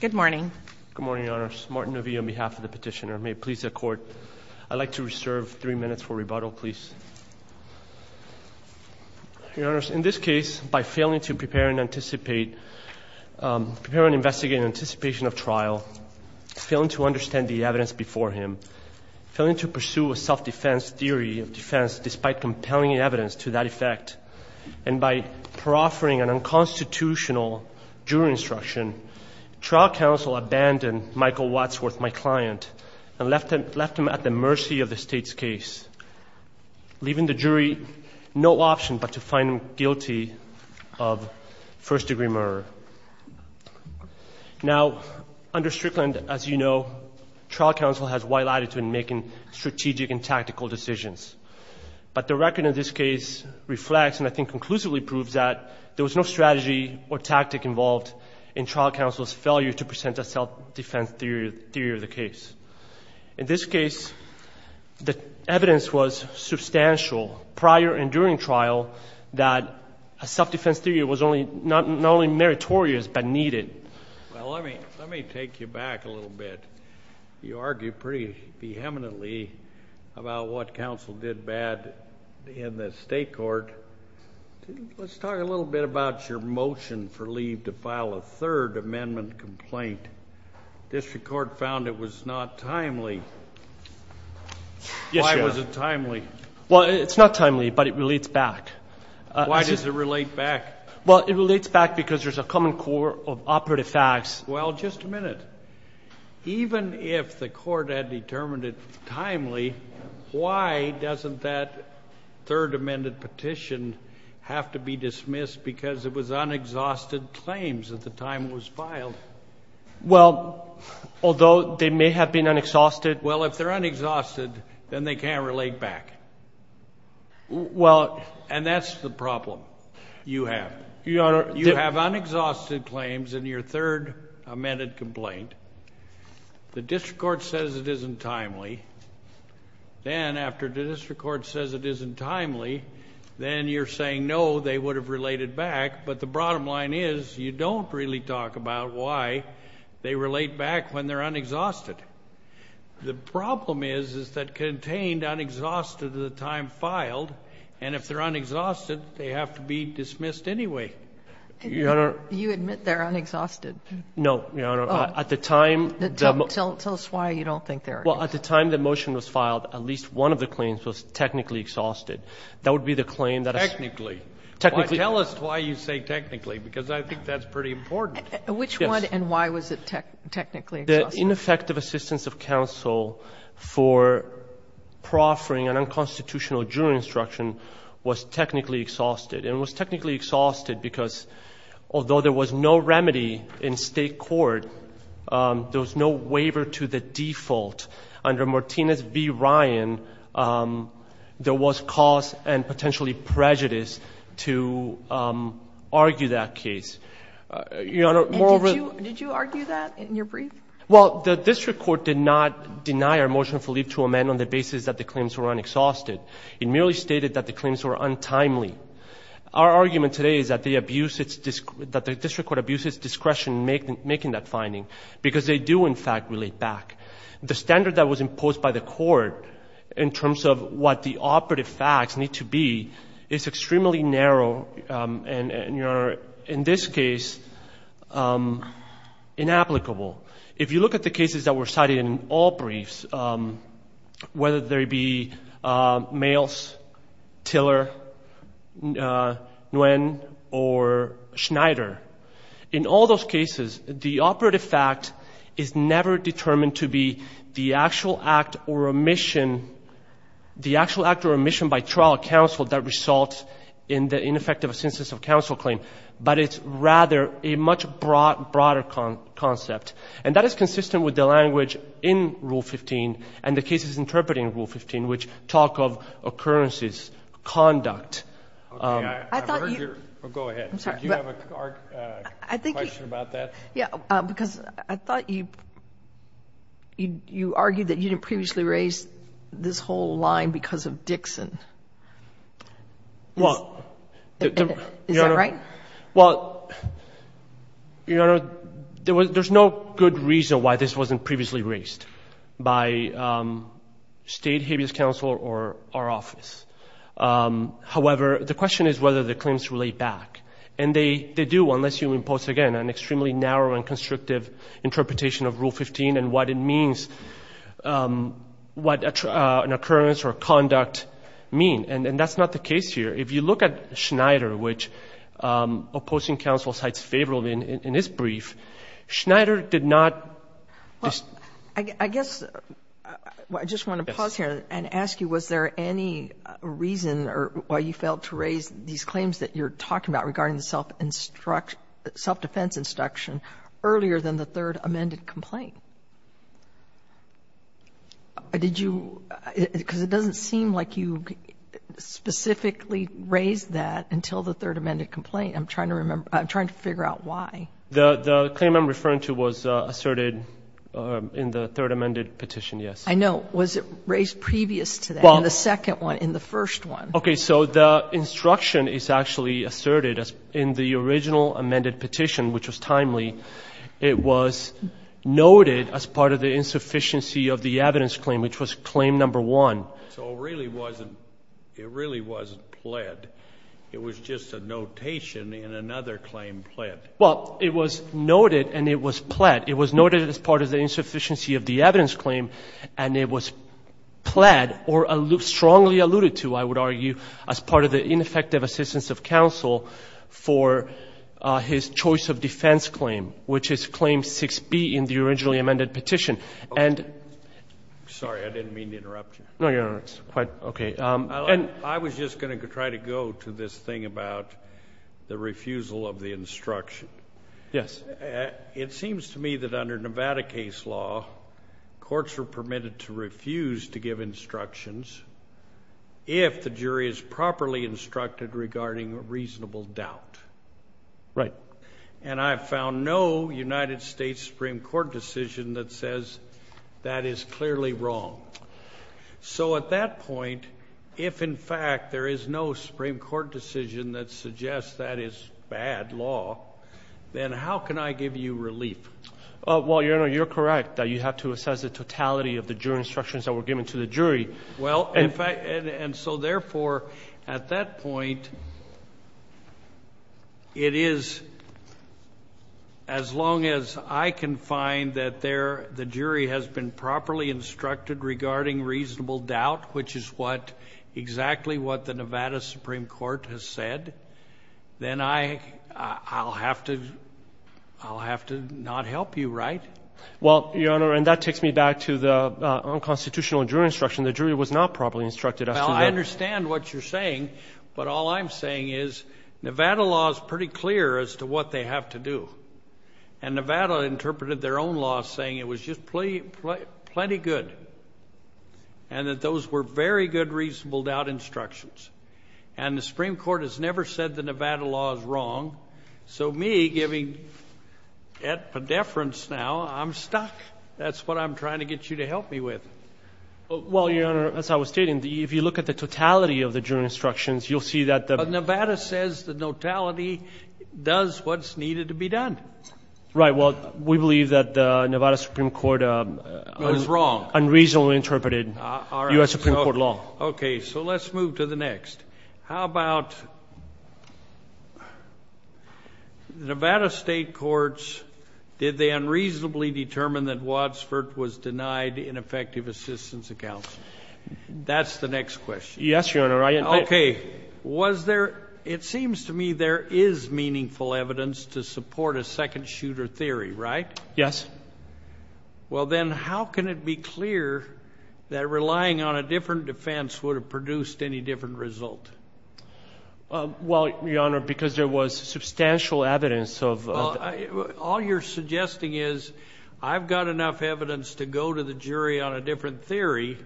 Good morning. Good morning, Your Honors. Martin Nuvie on behalf of the petitioner. May it please the Court, I'd like to reserve three minutes for rebuttal, please. Your Honors, in this case, by failing to prepare and anticipate, prepare and investigate in anticipation of trial, failing to understand the evidence before him, failing to pursue a self-defense theory of defense despite compelling evidence to that effect, and by proffering an unconstitutional jury instruction, trial counsel abandoned Michael Wadsworth, my client, and left him at the mercy of the State's case, leaving the jury no option but to find him guilty of first-degree murder. Now, under Strickland, as you know, trial counsel has wide latitude in making strategic and tactical decisions, but the record of this case reflects, and I think conclusively proves, that there was no strategy or tactic involved in trial counsel's failure to present a self-defense theory of the case. In this case, the evidence was substantial prior and during trial that a self-defense theory was not only meritorious but needed. Well, let me take you back a little bit. You argue pretty vehemently about what counsel did bad in the State court. Let's talk a little bit about your motion for leave to file a Third Amendment complaint. District Court found it was not timely. Why was it timely? Well, it's not timely, but it relates back. Why does it relate back? Well, it relates back because there's a common core of operative facts. Well, just a minute. Even if the court had determined it timely, why doesn't that Third Amendment petition have to be dismissed because it was unexhausted claims at the time it was filed? Well, although they may have been unexhausted. Well, if they're unexhausted, then they can't relate back. Well— And that's the problem you have. You have unexhausted claims in your Third Amendment complaint. The district court says it isn't timely. Then after the district court says it isn't timely, then you're saying, no, they would have related back, but the bottom line is you don't really talk about why they relate back when they're unexhausted. The problem is that contained unexhausted at the time filed, and if they're unexhausted, they have to be dismissed anyway. Your Honor— You admit they're unexhausted. No, Your Honor. At the time— Tell us why you don't think they're— Well, at the time the motion was filed, at least one of the claims was technically exhausted. That would be the claim that— Technically. Technically. Tell us why you say technically, because I think that's pretty important. Which one and why was it technically exhausted? The ineffective assistance of counsel for proffering an unconstitutional jury instruction was technically exhausted, and it was technically exhausted because although there was no remedy in State court, there was no waiver to the default. Under Martinez v. Ryan, there was cause and potentially prejudice to argue that case. Your Honor, more— And did you argue that in your brief? Well, the district court did not deny our motion for leave to amend on the basis that the claims were unexhausted. It merely stated that the claims were untimely. Our argument today is that the district court abuses discretion in making that finding because they do, in fact, relate back. The standard that was imposed by the court in terms of what the operative facts need to be is extremely narrow and, Your Honor, in this case, inapplicable. If you look at the cases that were cited in all briefs, whether there be Mayles, Tiller, Nguyen, or Schneider, in all those cases, the operative fact is never determined to be the actual act or omission— in effect of a census of counsel claim, but it's rather a much broader concept. And that is consistent with the language in Rule 15 and the cases interpreted in Rule 15, which talk of occurrences, conduct. Okay. I've heard your— Go ahead. I'm sorry. Do you have a question about that? Yeah, because I thought you argued that you didn't previously raise this whole line because of Dixon. Well— Is that right? Well, Your Honor, there's no good reason why this wasn't previously raised by State Habeas Counsel or our office. However, the question is whether the claims relate back. And they do, unless you impose, again, an extremely narrow and constrictive interpretation of Rule 15 and what it means, what an occurrence or conduct mean. And that's not the case here. If you look at Schneider, which opposing counsel cites favorably in his brief, Schneider did not— Well, I guess I just want to pause here and ask you, was there any reason why you failed to raise these claims that you're talking about regarding the self-defense instruction earlier than the third amended complaint? Did you—because it doesn't seem like you specifically raised that until the third amended complaint. I'm trying to remember—I'm trying to figure out why. The claim I'm referring to was asserted in the third amended petition, yes. I know. Was it raised previous to that in the second one, in the first one? Okay. So the instruction is actually asserted in the original amended petition, which was timely. It was noted as part of the insufficiency of the evidence claim, which was claim number one. So it really wasn't—it really wasn't pled. It was just a notation in another claim pled. Well, it was noted and it was pled. But it was noted as part of the insufficiency of the evidence claim, and it was pled or strongly alluded to, I would argue, as part of the ineffective assistance of counsel for his choice of defense claim, which is claim 6b in the originally amended petition. And— Sorry. I didn't mean to interrupt you. No, Your Honor. It's quite okay. I was just going to try to go to this thing about the refusal of the instruction. Yes. It seems to me that under Nevada case law, courts are permitted to refuse to give instructions if the jury is properly instructed regarding reasonable doubt. Right. And I've found no United States Supreme Court decision that says that is clearly wrong. So at that point, if in fact there is no Supreme Court decision that suggests that is bad law, then how can I give you relief? Well, Your Honor, you're correct that you have to assess the totality of the jury instructions that were given to the jury. Well, in fact—and so therefore, at that point, it is as long as I can find that the jury has been properly instructed regarding reasonable doubt, which is exactly what the Nevada Supreme Court has said, then I'll have to not help you, right? Well, Your Honor, and that takes me back to the unconstitutional jury instruction. The jury was not properly instructed. Well, I understand what you're saying, but all I'm saying is Nevada law is pretty clear as to what they have to do. And Nevada interpreted their own law saying it was just plenty good and that those were very good reasonable doubt instructions. And the Supreme Court has never said the Nevada law is wrong. So me, giving et podeferens now, I'm stuck. That's what I'm trying to get you to help me with. Well, Your Honor, as I was stating, if you look at the totality of the jury instructions, you'll see that the— But Nevada says the notality does what's needed to be done. Right. Well, we believe that the Nevada Supreme Court— Was wrong. Unreasonably interpreted U.S. Supreme Court law. All right. Okay. So let's move to the next. How about Nevada state courts, did they unreasonably determine that Wadsworth was denied ineffective assistance accounts? That's the next question. Yes, Your Honor, I— Okay. Was there—it seems to me there is meaningful evidence to support a second shooter theory, right? Yes. Well, then how can it be clear that relying on a different defense would have produced any different result? Well, Your Honor, because there was substantial evidence of— Well, all you're suggesting is I've got enough evidence to go to the jury on a different theory,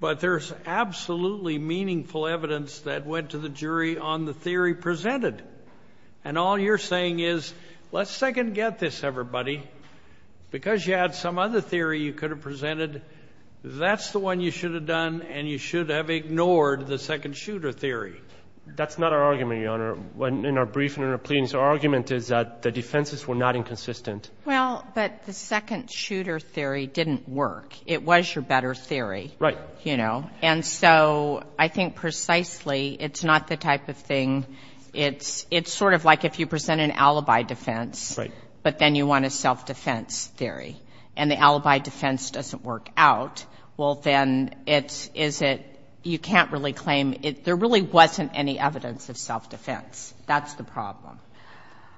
but there's absolutely meaningful evidence that went to the jury on the theory presented. And all you're saying is, let's second-guess this, everybody. Because you had some other theory you could have presented, that's the one you should have done, and you should have ignored the second shooter theory. That's not our argument, Your Honor. In our briefing and our pleadings, our argument is that the defenses were not inconsistent. Well, but the second shooter theory didn't work. It was your better theory. Right. You know. And so I think precisely it's not the type of thing—it's sort of like if you present an alibi defense— Right. —but then you want a self-defense theory, and the alibi defense doesn't work out, well, then it's—is it—you can't really claim—there really wasn't any evidence of self-defense. That's the problem.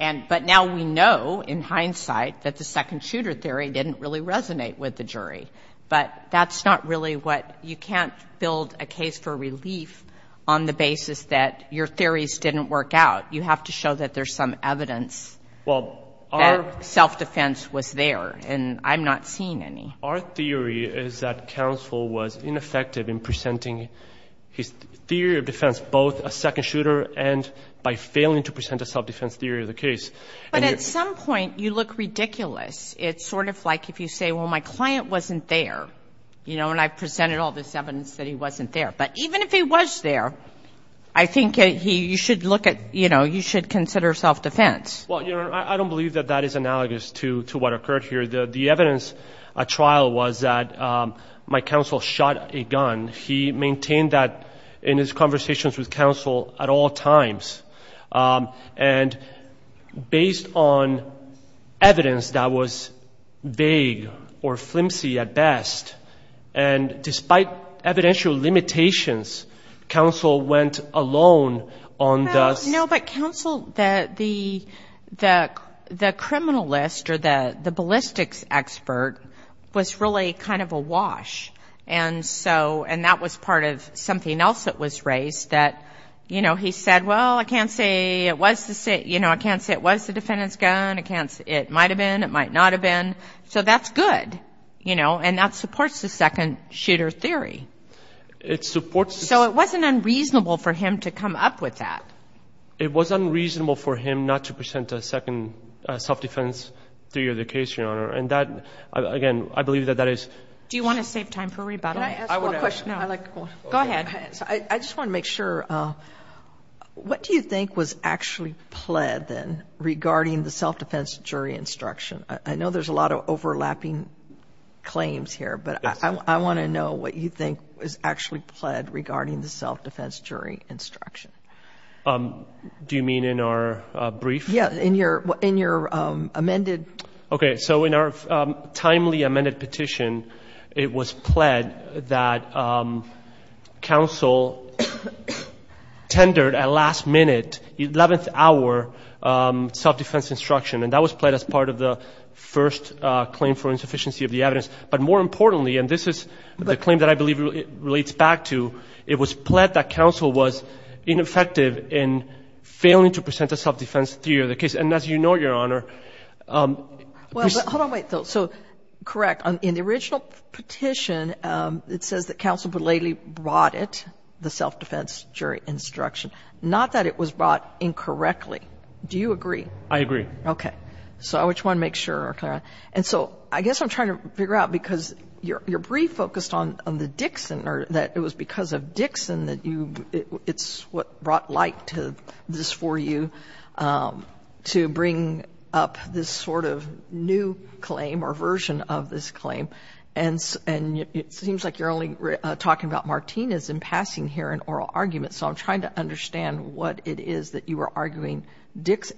And—but now we know, in hindsight, that the second shooter theory didn't really resonate with the jury. But that's not really what—you can't build a case for relief on the basis that your theories didn't work out. You have to show that there's some evidence that self-defense was there, and I'm not seeing any. Our theory is that counsel was ineffective in presenting his theory of defense, both a second shooter and by failing to present a self-defense theory of the case. But at some point, you look ridiculous. It's sort of like if you say, well, my client wasn't there, you know, and I presented all this evidence that he wasn't there. But even if he was there, I think he—you should look at—you know, you should consider self-defense. Well, Your Honor, I don't believe that that is analogous to what occurred here. The evidence at trial was that my counsel shot a gun. He maintained that in his conversations with counsel at all times. And based on evidence that was vague or flimsy at best, and despite evidential limitations, counsel went alone on the— No, but counsel—the criminalist or the ballistics expert was really kind of awash. And so—and that was part of something else that was raised that, you know, he said, well, I can't say it was the—you know, I can't say it was the defendant's gun. It might have been. It might not have been. So that's good, you know, and that supports the second shooter theory. It supports— So it wasn't unreasonable for him to come up with that. It was unreasonable for him not to present a second self-defense theory of the case, Your Honor. And that—again, I believe that that is— Do you want to save time for rebuttal? Can I ask one question? Go ahead. I just want to make sure, what do you think was actually pled, then, regarding the self-defense jury instruction? I know there's a lot of overlapping claims here, but I want to know what you think was actually pled regarding the self-defense jury instruction. Do you mean in our brief? Yeah, in your amended— Okay, so in our timely amended petition, it was pled that counsel tendered a last-minute, eleventh-hour self-defense instruction, and that was pled as part of the first claim for insufficiency of the evidence. But more importantly, and this is the claim that I believe relates back to, it was pled that counsel was ineffective in failing to present a self-defense theory of the case. And as you know, Your Honor— Well, hold on, wait, Phil. So, correct, in the original petition, it says that counsel belatedly brought it, the self-defense jury instruction, not that it was brought incorrectly. Do you agree? I agree. Okay. So I just wanted to make sure, Clara. And so I guess I'm trying to figure out, because your brief focused on the Dixon, or that it was because of Dixon that you, it's what brought light to this for you, to bring up this sort of new claim or version of this claim. And it seems like you're only talking about Martinez in passing here in oral argument, so I'm trying to understand what it is that you were arguing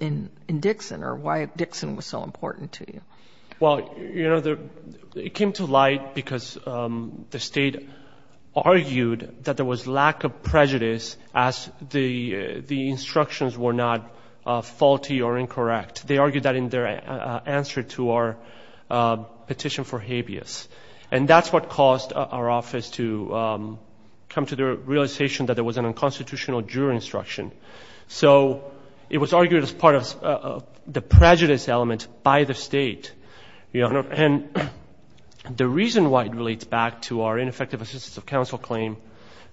in Dixon or why Dixon was so important to you. Well, you know, it came to light because the State argued that there was lack of prejudice as the instructions were not faulty or incorrect. They argued that in their answer to our petition for habeas. And that's what caused our office to come to the realization that there was an unconstitutional jury instruction. So it was argued as part of the prejudice element by the State, Your Honor. And the reason why it relates back to our ineffective assistance of counsel claim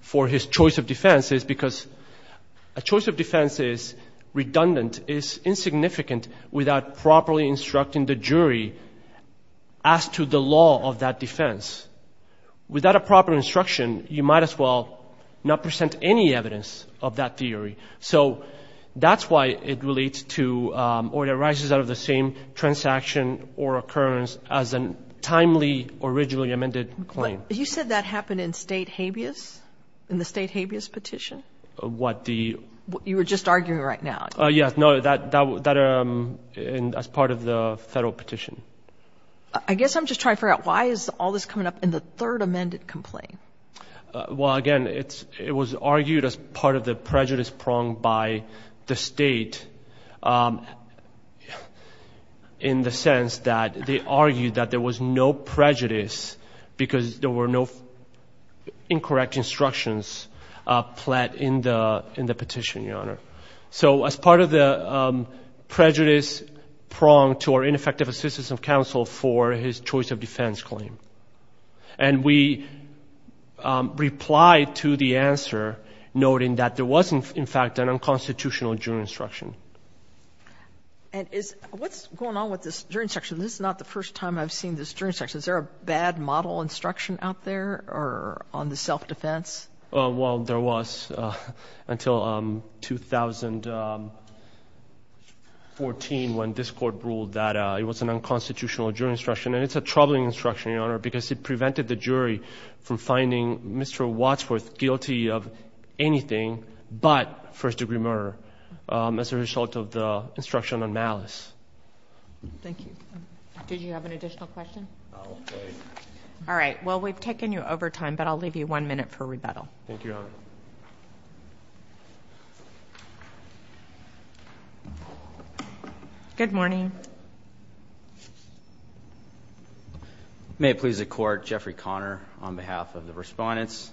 for his choice of defense is because a choice of defense is redundant, is insignificant without properly instructing the jury as to the law of that defense. Without a proper instruction, you might as well not present any evidence of that theory. So that's why it relates to or arises out of the same transaction or occurrence as a timely, originally amended claim. You said that happened in State habeas, in the State habeas petition? What, the? You were just arguing right now. Yes, no, that was part of the Federal petition. I guess I'm just trying to figure out why is all this coming up in the third amended complaint? Well, again, it was argued as part of the prejudice prong by the State in the sense that they argued that there was no prejudice because there were no incorrect instructions pled in the petition, Your Honor. So as part of the prejudice prong to our ineffective assistance of counsel for his choice of defense claim. And we replied to the answer noting that there was, in fact, an unconstitutional jury instruction. And what's going on with this jury instruction? This is not the first time I've seen this jury instruction. Is there a bad model instruction out there on the self-defense? Well, there was until 2014 when this court ruled that it was an unconstitutional jury instruction. And it's a troubling instruction, Your Honor, because it prevented the jury from finding Mr. Wadsworth guilty of anything but first degree murder as a result of the instruction on malice. Thank you. Did you have an additional question? No, I'm sorry. All right. Well, we've taken you over time, but I'll leave you one minute for rebuttal. Thank you, Your Honor. Good morning. May it please the Court, Jeffrey Conner on behalf of the respondents.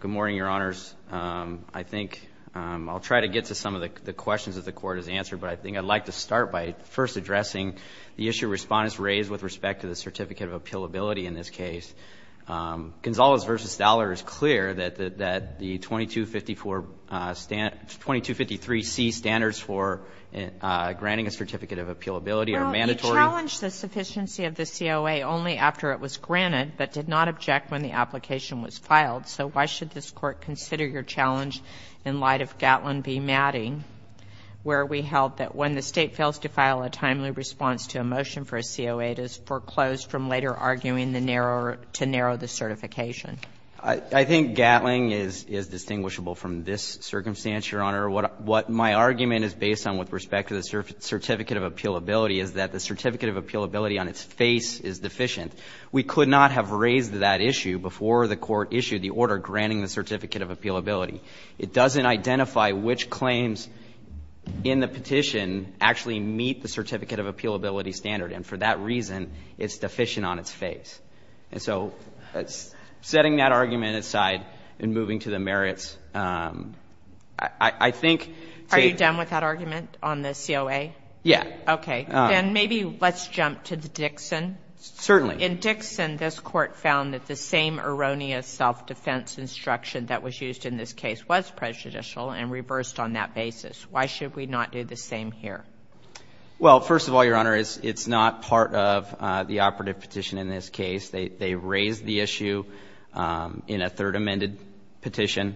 Good morning, Your Honors. I think I'll try to get to some of the questions that the Court has answered, but I think I'd like to start by first addressing the issue respondents raised with respect to the certificate of appealability in this case. Gonzalez v. Staller is clear that the 2253C standards for granting a certificate of appealability are mandatory. Well, you challenged the sufficiency of the COA only after it was granted, but did not object when the application was filed. So why should this Court consider your challenge in light of Gatlin v. Matting, where we held that when the State fails to file a timely response to a motion for a COA, it is foreclosed from later arguing to narrow the certification? I think Gatlin is distinguishable from this circumstance, Your Honor. What my argument is based on with respect to the certificate of appealability is that the certificate of appealability on its face is deficient. We could not have raised that issue before the Court issued the order granting the certificate of appealability. It doesn't identify which claims in the petition actually meet the certificate of appealability standard, and for that reason, it's deficient on its face. And so setting that argument aside and moving to the merits, I think to you. Are you done with that argument on the COA? Yes. Okay. Then maybe let's jump to Dixon. Certainly. In Dixon, this Court found that the same erroneous self-defense instruction that was used in this case was prejudicial and reversed on that basis. Why should we not do the same here? Well, first of all, Your Honor, it's not part of the operative petition in this case. They raised the issue in a third amended petition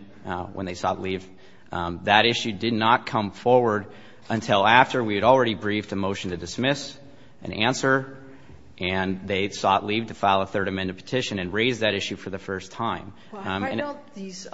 when they sought leave. That issue did not come forward until after we had already briefed a motion to dismiss and answer, and they sought leave to file a third amended petition and raise that issue for the first time. Why don't these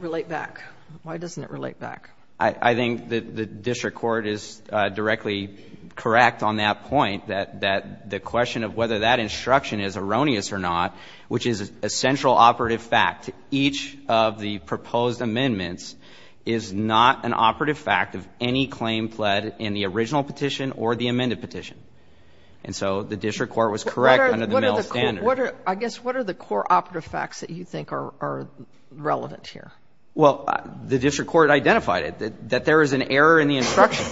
relate back? Why doesn't it relate back? I think the district court is directly correct on that point, that the question of whether that instruction is erroneous or not, which is a central operative fact, each of the proposed amendments is not an operative fact of any claim pled in the original petition or the amended petition. And so the district court was correct under the mill standard. Sotomayor, I guess what are the core operative facts that you think are relevant here? Well, the district court identified it, that there is an error in the instruction.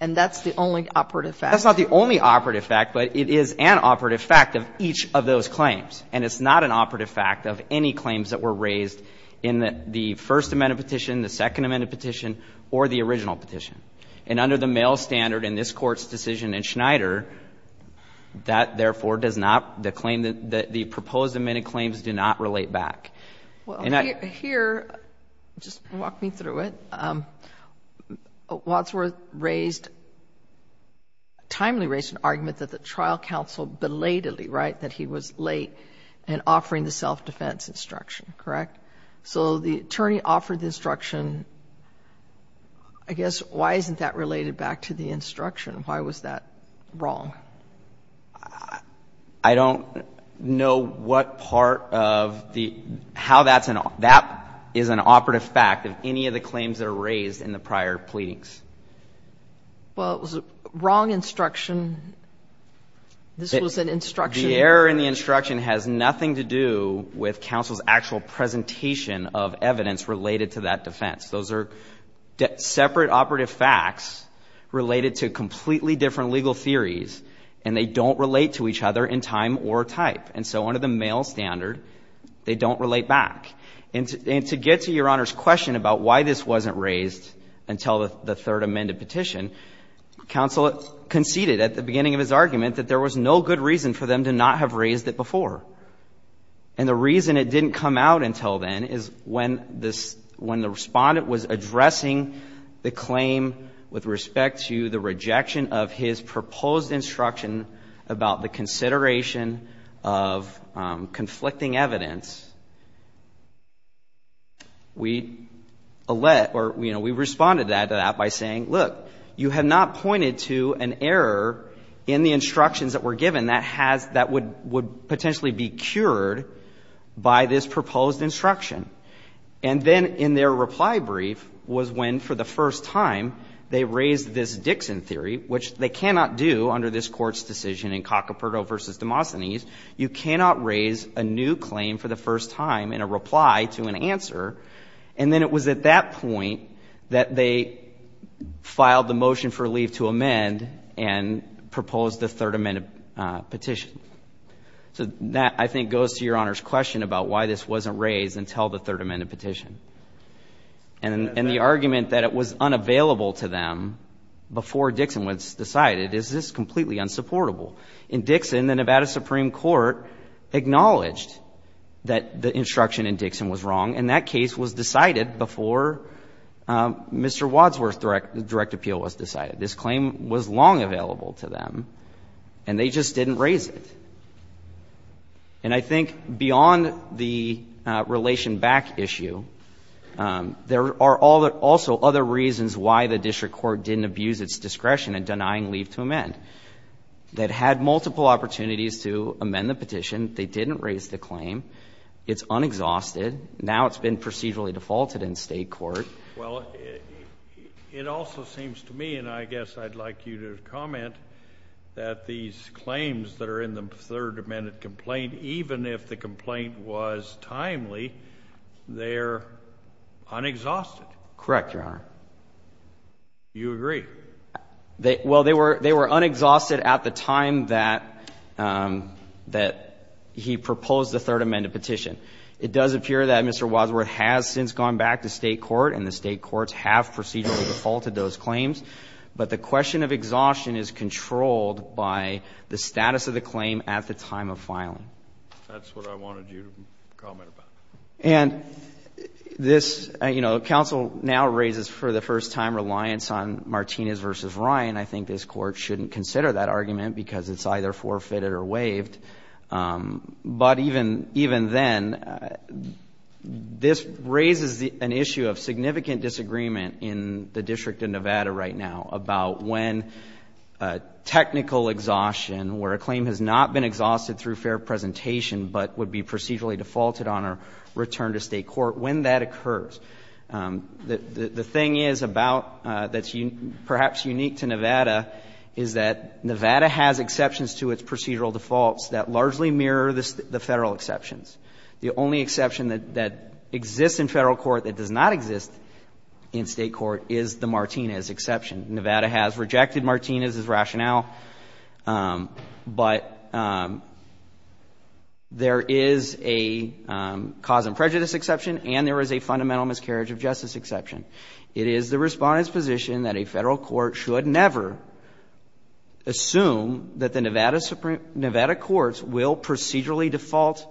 And that's the only operative fact? That's not the only operative fact, but it is an operative fact of each of those claims, and it's not an operative fact of any claims that were raised in the first amended petition, the second amended petition, or the original petition. And under the mill standard in this Court's decision in Schneider, that therefore does not, the proposed amended claims do not relate back. Well, here, just walk me through it. Wadsworth raised, timely raised an argument that the trial counsel belatedly, right, that he was late in offering the self-defense instruction, correct? So the attorney offered the instruction. I guess why isn't that related back to the instruction? Why was that wrong? I don't know what part of the, how that's an, that is an operative fact of any of the claims that are raised in the prior pleadings. Well, it was a wrong instruction. This was an instruction. The error in the instruction has nothing to do with counsel's actual presentation of evidence related to that defense. Those are separate operative facts related to completely different legal theories. And they don't relate to each other in time or type. And so under the mill standard, they don't relate back. And to get to Your Honor's question about why this wasn't raised until the third amended petition, counsel conceded at the beginning of his argument that there was no good reason for them to not have raised it before. And the reason it didn't come out until then is when this, when the respondent was addressing the claim with respect to the rejection of his proposed instruction about the consideration of conflicting evidence, we let, or, you know, we responded to that by saying, look, you have not pointed to an error in the instructions that were given that has, that would potentially be cured by this proposed instruction. And then in their reply brief was when, for the first time, they raised this Dixon theory, which they cannot do under this Court's decision in Cacoperto v. Demosthenes. You cannot raise a new claim for the first time in a reply to an answer. And then it was at that point that they filed the motion for leave to amend and proposed the third amended petition. So that, I think, goes to Your Honor's question about why this wasn't raised until the third amended petition. And the argument that it was unavailable to them before Dixon was decided is just completely unsupportable. In Dixon, the Nevada Supreme Court acknowledged that the instruction in Dixon was wrong, and that case was decided before Mr. Wadsworth's direct appeal was decided. This claim was long available to them, and they just didn't raise it. And I think beyond the relation back issue, there are also other reasons why the district court didn't abuse its discretion in denying leave to amend. They had multiple opportunities to amend the petition. They didn't raise the claim. It's unexhausted. Now it's been procedurally defaulted in State court. Well, it also seems to me, and I guess I'd like you to comment, that these claims that are in the third amended complaint, even if the complaint was timely, they're unexhausted. Correct, Your Honor. You agree? Well, they were unexhausted at the time that he proposed the third amended petition. It does appear that Mr. Wadsworth has since gone back to State court, and the State courts have procedurally defaulted those claims. But the question of exhaustion is controlled by the status of the claim at the time of filing. That's what I wanted you to comment about. And this, you know, counsel now raises for the first time reliance on Martinez v. Ryan. I think this Court shouldn't consider that argument because it's either forfeited or waived. But even then, this raises an issue of significant disagreement in the District of Nevada right now about when technical exhaustion, where a claim has not been exhausted through fair presentation but would be procedurally defaulted on a return to State court, when that occurs. The thing is about, that's perhaps unique to Nevada, is that Nevada has exceptions to its procedural defaults that largely mirror the Federal exceptions. The only exception that exists in Federal court that does not exist in State court is the Martinez exception. Nevada has rejected Martinez's rationale, but there is a cause and prejudice exception and there is a fundamental miscarriage of justice exception. It is the Respondent's position that a Federal court should never assume that the Nevada courts will procedurally default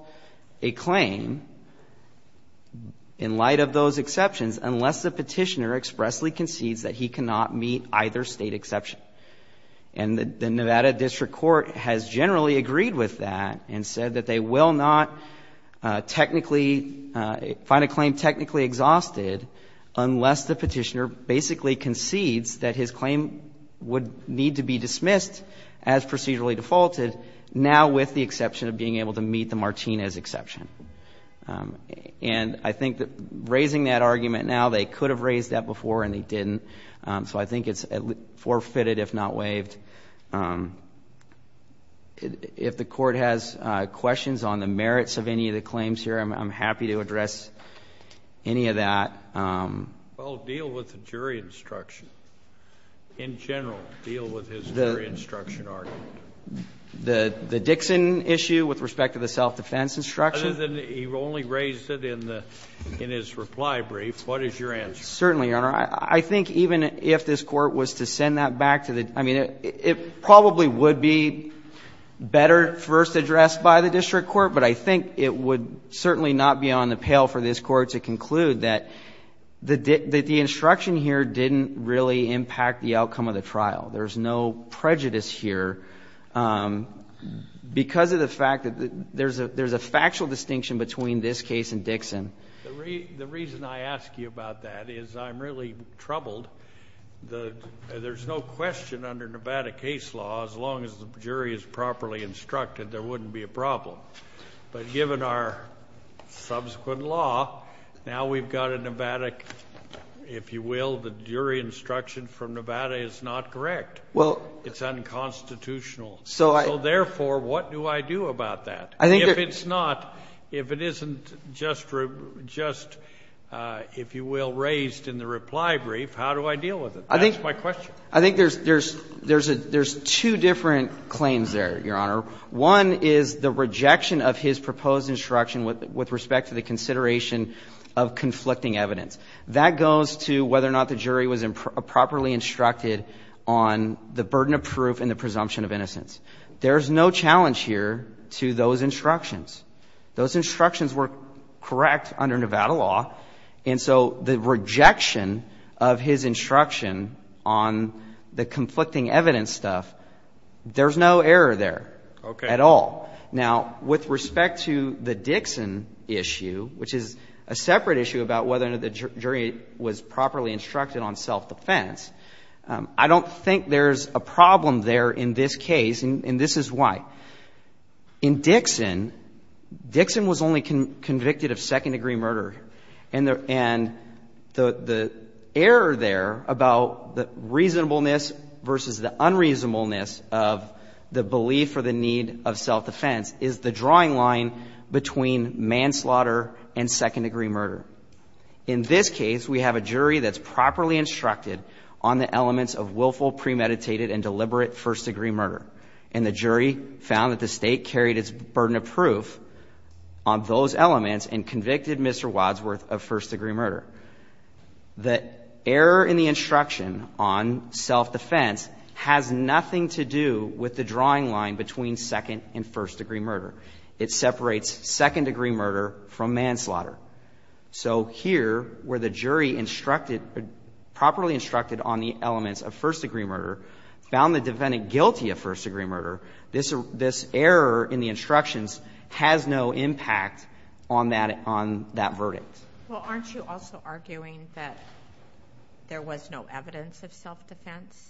a claim in light of those exceptions unless the Petitioner expressly concedes that he cannot meet either State exception. And the Nevada District Court has generally agreed with that and said that they will not technically find a claim technically exhausted unless the Petitioner basically concedes that his claim would need to be dismissed as procedurally defaulted, now with the exception of being able to meet the Martinez exception. And I think that raising that argument now, they could have raised that before and they didn't, so I think it's forfeited if not waived. If the Court has questions on the merits of any of the claims here, I'm happy to address any of that. Well, deal with the jury instruction. In general, deal with his jury instruction argument. The Dixon issue with respect to the self-defense instruction? Other than he only raised it in his reply brief. What is your answer? Certainly, Your Honor. I think even if this Court was to send that back to the – I mean, it probably would be better first addressed by the District Court, but I think it would certainly not be on the pale for this Court to conclude that the instruction here didn't really impact the outcome of the trial. There's no prejudice here because of the fact that there's a factual distinction between this case and Dixon. The reason I ask you about that is I'm really troubled. There's no question under Nevada case law, as long as the jury is properly instructed, there wouldn't be a problem. But given our subsequent law, now we've got a Nevada, if you will, the jury instruction from Nevada is not correct. It's unconstitutional. So therefore, what do I do about that? If it's not, if it isn't just, if you will, raised in the reply brief, how do I deal with it? That's my question. I think there's two different claims there, Your Honor. One is the rejection of his proposed instruction with respect to the consideration of conflicting evidence. That goes to whether or not the jury was properly instructed on the burden of proof and the presumption of innocence. There's no challenge here to those instructions. Those instructions were correct under Nevada law. And so the rejection of his instruction on the conflicting evidence stuff, there's no error there at all. Now, with respect to the Dixon issue, which is a separate issue about whether or not the jury was properly instructed on self-defense, I don't think there's a problem there in this case, and this is why. In Dixon, Dixon was only convicted of second-degree murder. And the error there about the reasonableness versus the unreasonableness of the belief or the need of self-defense is the drawing line between manslaughter and second-degree murder. In this case, we have a jury that's properly instructed on the elements of willful, premeditated, and deliberate first-degree murder. And the jury found that the State carried its burden of proof on those elements and convicted Mr. Wadsworth of first-degree murder. The error in the instruction on self-defense has nothing to do with the drawing line between second- and first-degree murder. It separates second-degree murder from manslaughter. So here, where the jury instructed, properly instructed on the elements of first-degree murder, found the defendant guilty of first-degree murder, this error in the instructions has no impact on that verdict. Well, aren't you also arguing that there was no evidence of self-defense,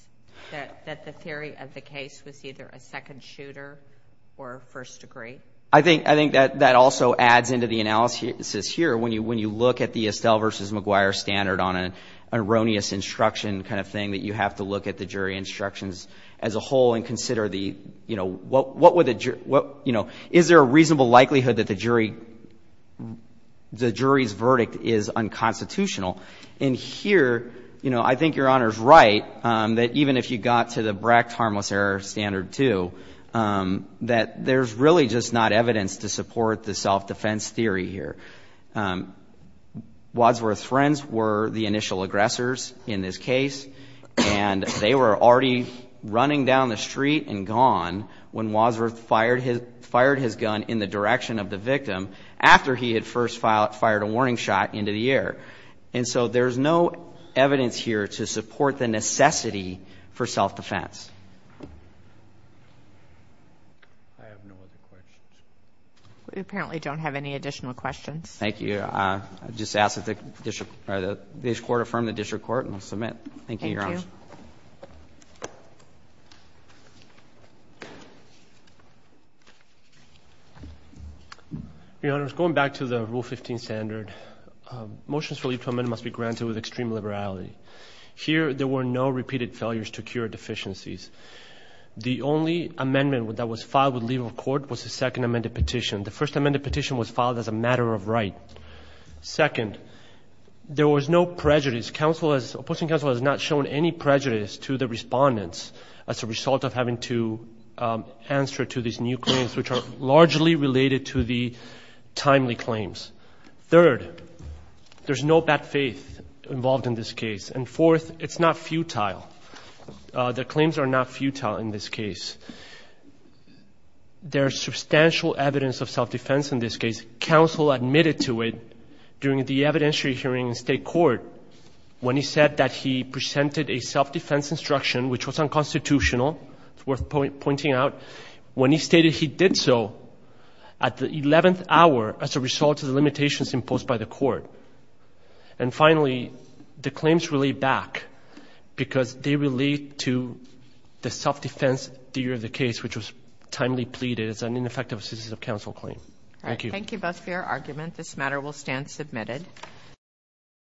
that the theory of the case was either a second shooter or first-degree? I think that also adds into the analysis here. When you look at the Estelle v. McGuire standard on an erroneous instruction kind of thing, that you have to look at the jury instructions as a whole and consider the, you know, what would the jury, you know, is there a reasonable likelihood that the jury's verdict is unconstitutional? And here, you know, I think Your Honor's right, that even if you got to the Bracht harmless error standard too, that there's really just not evidence to support the self-defense theory here. Wadsworth's friends were the initial aggressors in this case, and they were already running down the street and gone when Wadsworth fired his gun in the direction of the victim after he had first fired a warning shot into the air. And so there's no evidence here to support the necessity for self-defense. I have no other questions. We apparently don't have any additional questions. Thank you. I'll just ask that this Court affirm the district court, and we'll submit. Thank you, Your Honor. Thank you. Your Honor, going back to the Rule 15 standard, motions for leave to amend must be granted with extreme liberality. Here there were no repeated failures to cure deficiencies. The only amendment that was filed with legal court was the second amended petition. The first amended petition was filed as a matter of right. Second, there was no prejudice. Opposing counsel has not shown any prejudice to the respondents as a result of having to answer to these new claims, which are largely related to the timely claims. Third, there's no bad faith involved in this case. And fourth, it's not futile. The claims are not futile in this case. Counsel admitted to it during the evidentiary hearing in state court when he said that he presented a self-defense instruction, which was unconstitutional, it's worth pointing out, when he stated he did so at the 11th hour as a result of the limitations imposed by the court. And finally, the claims relate back because they relate to the self-defense theory of the case, which was timely pleaded as an ineffective assistance of counsel claim. Thank you. Thank you both for your argument. This matter will stand submitted.